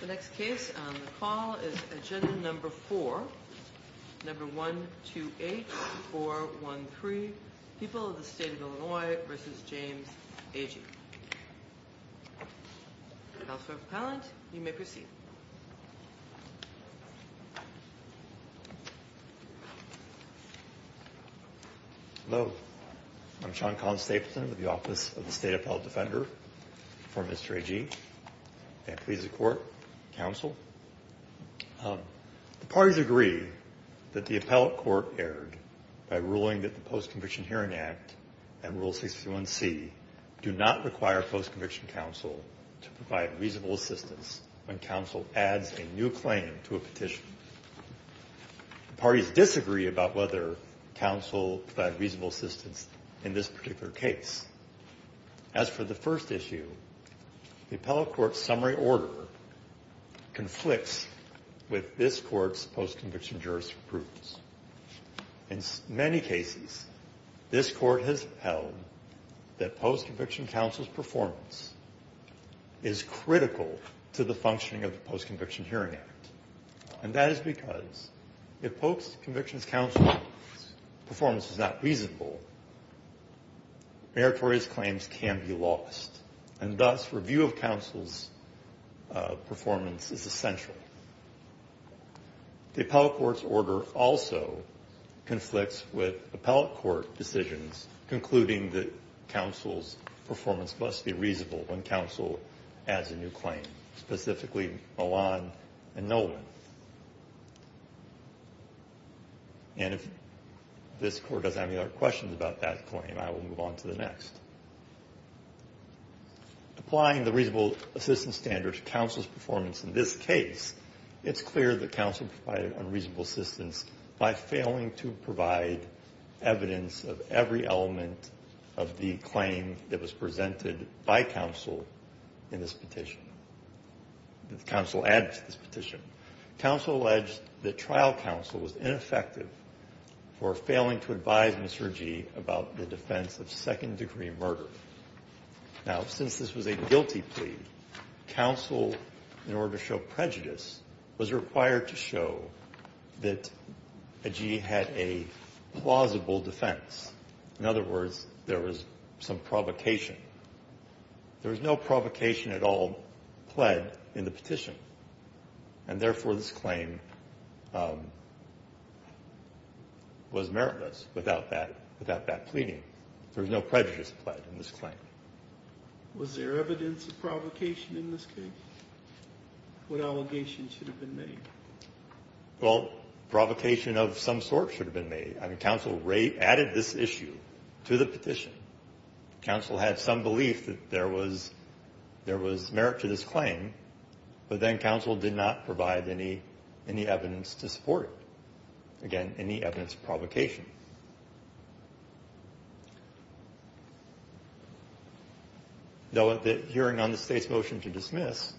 The next case on the call is agenda number 4, number 128413, People of the State of Illinois v. James Agee. Counselor Appellant, you may proceed. Hello. I'm Sean Collins-Stapleton with the Office of the State Appellant Defender for Mr. Agee. May I please the Court, Counsel? The parties agree that the Appellate Court erred by ruling that the Post-Conviction Hearing Act and Rule 631c do not require Post-Conviction Counsel to provide reasonable assistance when counsel adds a new claim to a petition. The parties disagree about whether counsel provide reasonable assistance in this particular case. As for the first issue, the Appellate Court's summary order conflicts with this Court's post-conviction jurisprudence. In many cases, this Court has held that post-conviction counsel's performance is critical to the functioning of the Post-Conviction Hearing Act. And that is because if post-conviction counsel's performance is not reasonable, meritorious claims can be lost. And thus, review of counsel's performance is essential. The Appellate Court's order also conflicts with Appellate Court decisions concluding that counsel's performance must be reasonable when counsel adds a new claim, specifically Milan and Nolan. And if this Court doesn't have any other questions about that claim, I will move on to the next. Applying the reasonable assistance standard to counsel's performance in this case, it's clear that counsel provided unreasonable assistance by failing to provide evidence of every element of the claim that was presented by counsel in this petition, that counsel added to this petition. Counsel alleged that trial counsel was ineffective for failing to advise Mr. Gee about the defense of second-degree murder. Now, since this was a guilty plea, counsel, in order to show prejudice, was required to show that Gee had a plausible defense. In other words, there was some provocation. There was no provocation at all pled in the petition. And therefore, this claim was meritless without that, without that pleading. There was no prejudice pled in this claim. Was there evidence of provocation in this case? What allegations should have been made? Well, provocation of some sort should have been made. I mean, counsel added this issue to the petition. Counsel had some belief that there was merit to this claim, but then counsel did not provide any evidence to support it. Again, any evidence of provocation. Though at the hearing on the State's motion to dismiss,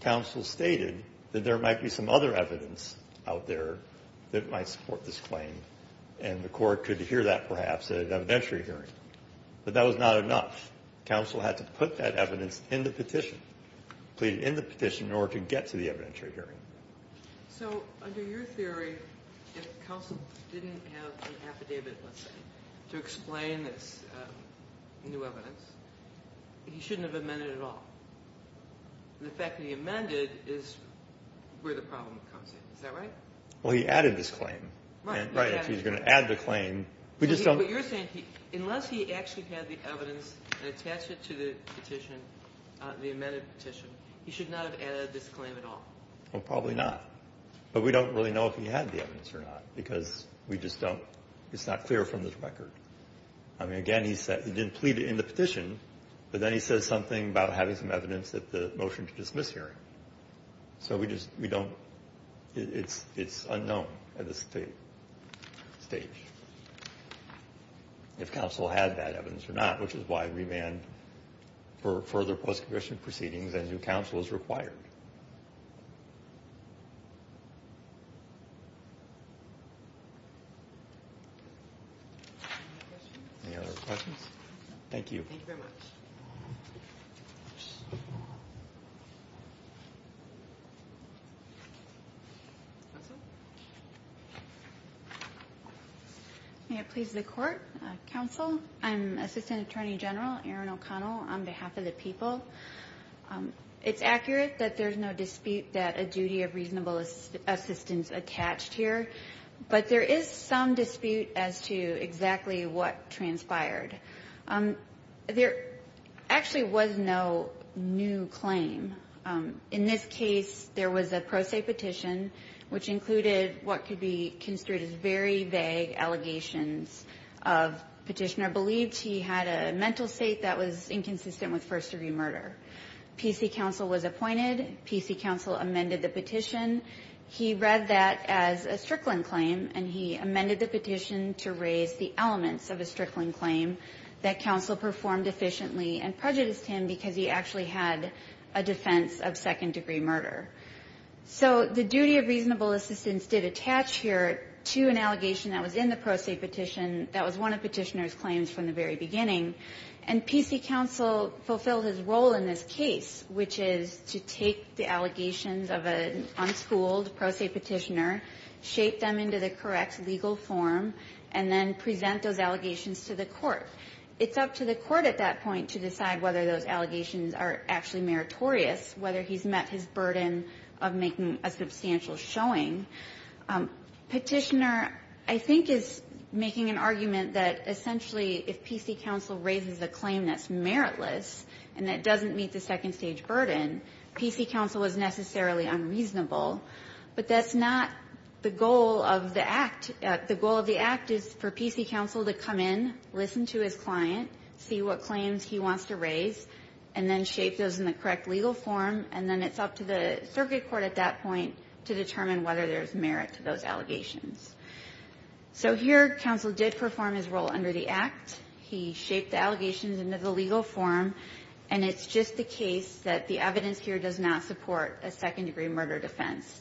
counsel stated that there might be some other evidence out there that might support this claim, and the court could hear that perhaps at an evidentiary hearing. But that was not enough. Counsel had to put that evidence in the petition, plead it in the petition in order to get to the evidentiary hearing. So under your theory, if counsel didn't have the affidavit, let's say, to explain this new evidence, he shouldn't have amended it at all. The fact that he amended is where the problem comes in. Is that right? Well, he added this claim. Right. He's going to add the claim. But you're saying unless he actually had the evidence and attached it to the petition, the amended petition, he should not have added this claim at all. Well, probably not. But we don't really know if he had the evidence or not, because we just don't. It's not clear from this record. I mean, again, he said he didn't plead it in the petition, but then he says something about having some evidence at the motion to dismiss hearing. So we just don't. It's unknown at this stage if counsel had that evidence or not, which is why remand for further post-commission proceedings as new counsel is required. Any other questions? Thank you. Thank you very much. Counsel? May it please the Court. Counsel, I'm Assistant Attorney General Erin O'Connell on behalf of the people. It's accurate that there's no dispute that a duty of reasonable assistance attached here, but there is some dispute as to exactly what transpired. There actually was no new claim. In this case, there was a pro se petition, which included what could be construed as very vague allegations of petitioner beliefs. He had a mental state that was inconsistent with first-degree murder. PC counsel was appointed. PC counsel amended the petition. He read that as a Strickland claim, and he amended the petition to raise the elements of a Strickland claim that counsel performed efficiently and prejudiced him because he actually had a defense of second-degree murder. So the duty of reasonable assistance did attach here to an allegation that was in the pro se petition that was one of petitioner's claims from the very beginning. And PC counsel fulfilled his role in this case, which is to take the allegations of an unschooled pro se petitioner, shape them into the correct legal form, and then present those allegations to the court. It's up to the court at that point to decide whether those allegations are actually meritorious, whether he's met his burden of making a substantial showing. Petitioner, I think, is making an argument that essentially if PC counsel raises a claim that's meritless and that doesn't meet the second-stage burden, PC counsel was necessarily unreasonable. But that's not the goal of the act. The goal of the act is for PC counsel to come in, listen to his client, see what claims he wants to raise, and then shape those in the correct legal form, and then it's up to the circuit court at that point to determine whether there's merit to those allegations. So here counsel did perform his role under the Act. He shaped the allegations into the legal form, and it's just the case that the evidence here does not support a second-degree murder defense.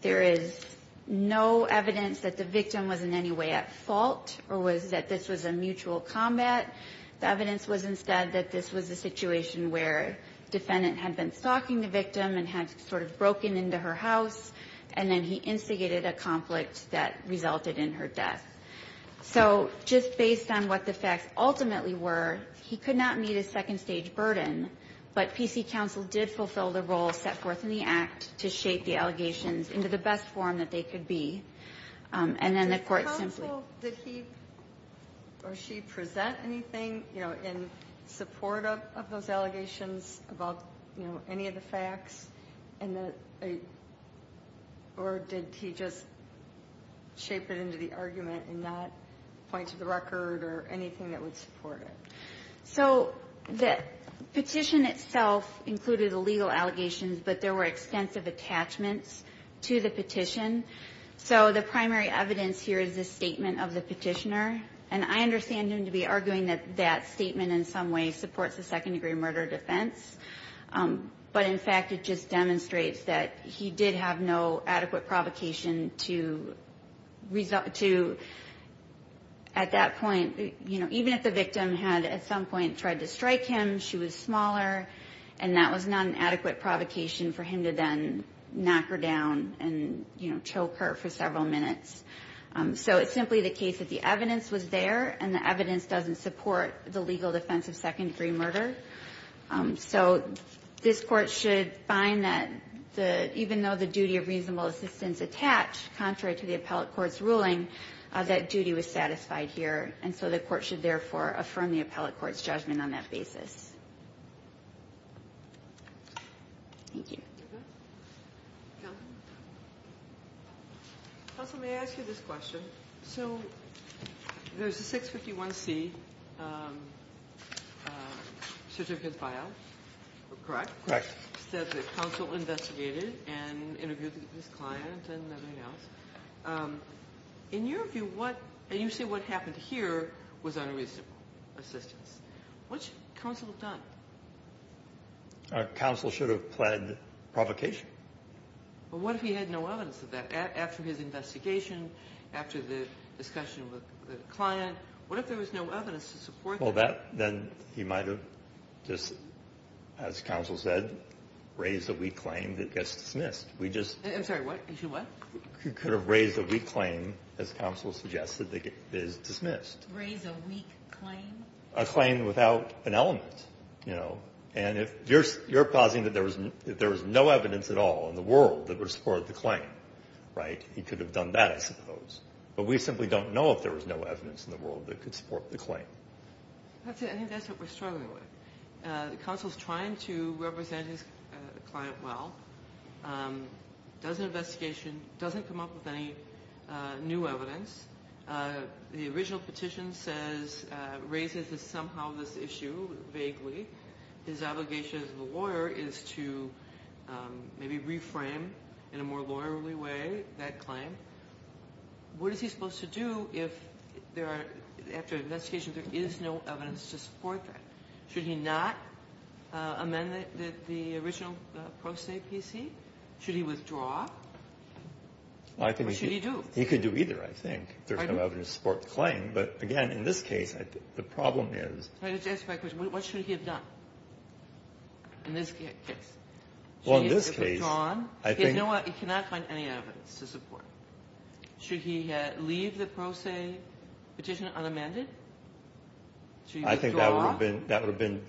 There is no evidence that the victim was in any way at fault or was that this was a mutual combat. The evidence was instead that this was a situation where defendant had been stalking the victim and had sort of broken into her house, and then he instigated a conflict that resulted in her death. So just based on what the facts ultimately were, he could not meet a second-stage burden, but PC counsel did fulfill the role set forth in the Act to shape the allegations into the best form that they could be. And then the Court simply ---- Ginsburg. Did counsel, did he or she present anything, you know, in support of those allegations about, you know, any of the facts, and that a or did he just shape it into the argument and not point to the record or anything that would support it? So the petition itself included illegal allegations, but there were extensive attachments to the petition. So the primary evidence here is the statement of the petitioner, and I understand him to be arguing that that statement in some way supports a second-degree murder defense. But, in fact, it just demonstrates that he did have no adequate provocation to, at that point, you know, even if the victim had at some point tried to strike him, she was smaller, and that was not an adequate provocation for him to then knock her down and, you know, choke her for several minutes. So it's simply the case that the evidence was there, and the evidence doesn't support the legal defense of second-degree murder. So this Court should find that even though the duty of reasonable assistance is attached, contrary to the appellate court's ruling, that duty was satisfied here, and so the Court should, therefore, affirm the appellate court's judgment on that basis. Thank you. Kagan. Counsel, may I ask you this question? So there's a 651C certificate file, correct? Correct. It says that counsel investigated and interviewed this client and everything else. In your view, what you say what happened here was unreasonable assistance. What should counsel have done? Counsel should have pled provocation. But what if he had no evidence of that? After his investigation, after the discussion with the client, what if there was no evidence to support that? Well, that then he might have just, as counsel said, raised a weak claim that gets dismissed. I'm sorry, what? You said what? He could have raised a weak claim, as counsel suggested, that gets dismissed. Raised a weak claim? A claim without an element, you know. And if you're causing that there was no evidence at all in the world that would support the claim, right, he could have done that, I suppose. But we simply don't know if there was no evidence in the world that could support the claim. I think that's what we're struggling with. Counsel's trying to represent his client well. Does an investigation, doesn't come up with any new evidence. The original petition says raises somehow this issue vaguely. His obligation as a lawyer is to maybe reframe in a more lawyerly way that claim. What is he supposed to do if there are, after investigation, there is no evidence to support that? Should he not amend the original pro se PC? Should he withdraw? Or should he do? He could do either, I think, if there's no evidence to support the claim. But, again, in this case, the problem is. Let me just answer my question. What should he have done in this case? Well, in this case, I think. You know what? He cannot find any evidence to support. Should he leave the pro se petition unamended? Should he withdraw? I think that would have been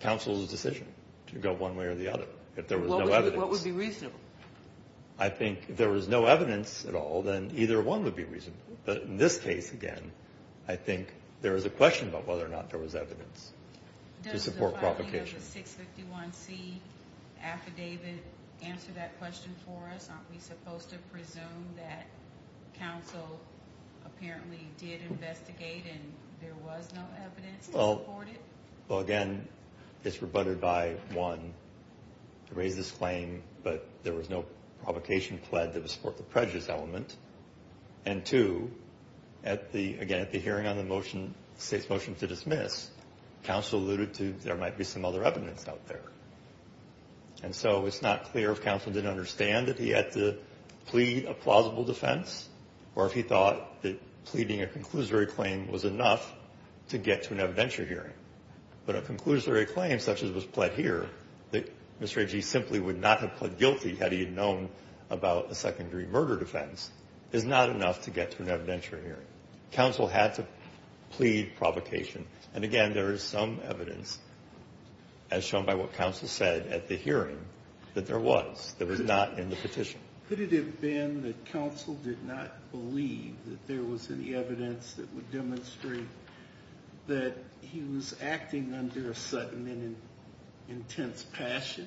counsel's decision to go one way or the other. If there was no evidence. What would be reasonable? I think if there was no evidence at all, then either one would be reasonable. But in this case, again, I think there is a question about whether or not there was evidence to support provocation. Does the 651C affidavit answer that question for us? Aren't we supposed to presume that counsel apparently did investigate, and there was no evidence to support it? Well, again, it's rebutted by, one, to raise this claim, but there was no provocation pled that would support the prejudice element. And, two, again, at the hearing on the motion, the state's motion to dismiss, counsel alluded to there might be some other evidence out there. And so it's not clear if counsel didn't understand that he had to plead a plausible defense or if he thought that pleading a conclusory claim was enough to get to an evidentiary hearing. But a conclusory claim such as was pled here, that Mr. Agee simply would not have pled guilty had he known about a secondary murder defense, is not enough to get to an evidentiary hearing. Counsel had to plead provocation. And, again, there is some evidence, as shown by what counsel said at the hearing, that there was, that was not in the petition. Could it have been that counsel did not believe that there was any evidence that would demonstrate that he was acting under a sudden and intense passion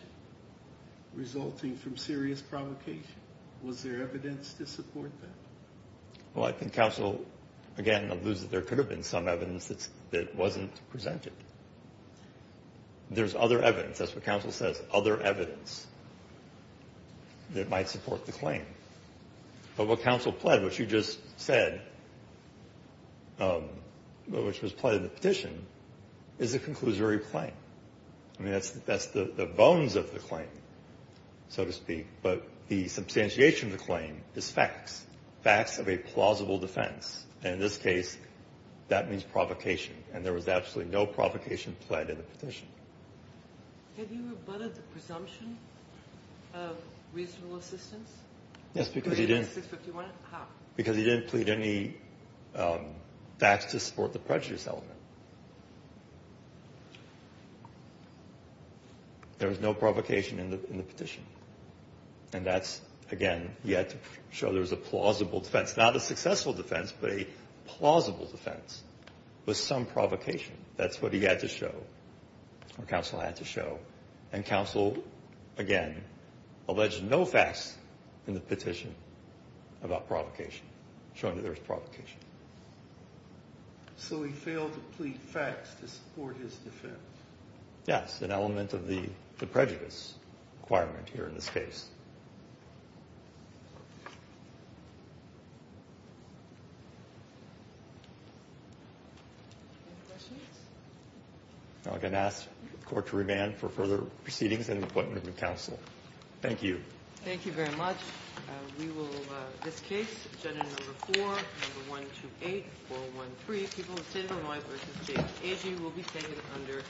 resulting from serious provocation? Was there evidence to support that? Well, I think counsel, again, alludes that there could have been some evidence that's, that wasn't presented. There's other evidence. That's what counsel says, other evidence that might support the claim. But what counsel pled, which you just said, which was pled in the petition, is a conclusory claim. I mean, that's the bones of the claim, so to speak. But the substantiation of the claim is facts, facts of a plausible defense. And in this case, that means provocation. And there was absolutely no provocation pled in the petition. Have you abutted the presumption of reasonable assistance? Yes, because he didn't. For 651? How? Because he didn't plead any facts to support the prejudice element. There was no provocation in the petition. And that's, again, he had to show there was a plausible defense. Not a successful defense, but a plausible defense with some provocation. That's what he had to show, or counsel had to show. And counsel, again, alleged no facts in the petition about provocation, showing that there was provocation. So he failed to plead facts to support his defense. Yes, an element of the prejudice requirement here in this case. Any questions? I'm going to ask the Court to remand for further proceedings and an appointment with counsel. Thank you. Thank you very much. We will, this case, agenda number 4, number 128, 413, people in favor, aye, versus nay. Agee will be second under.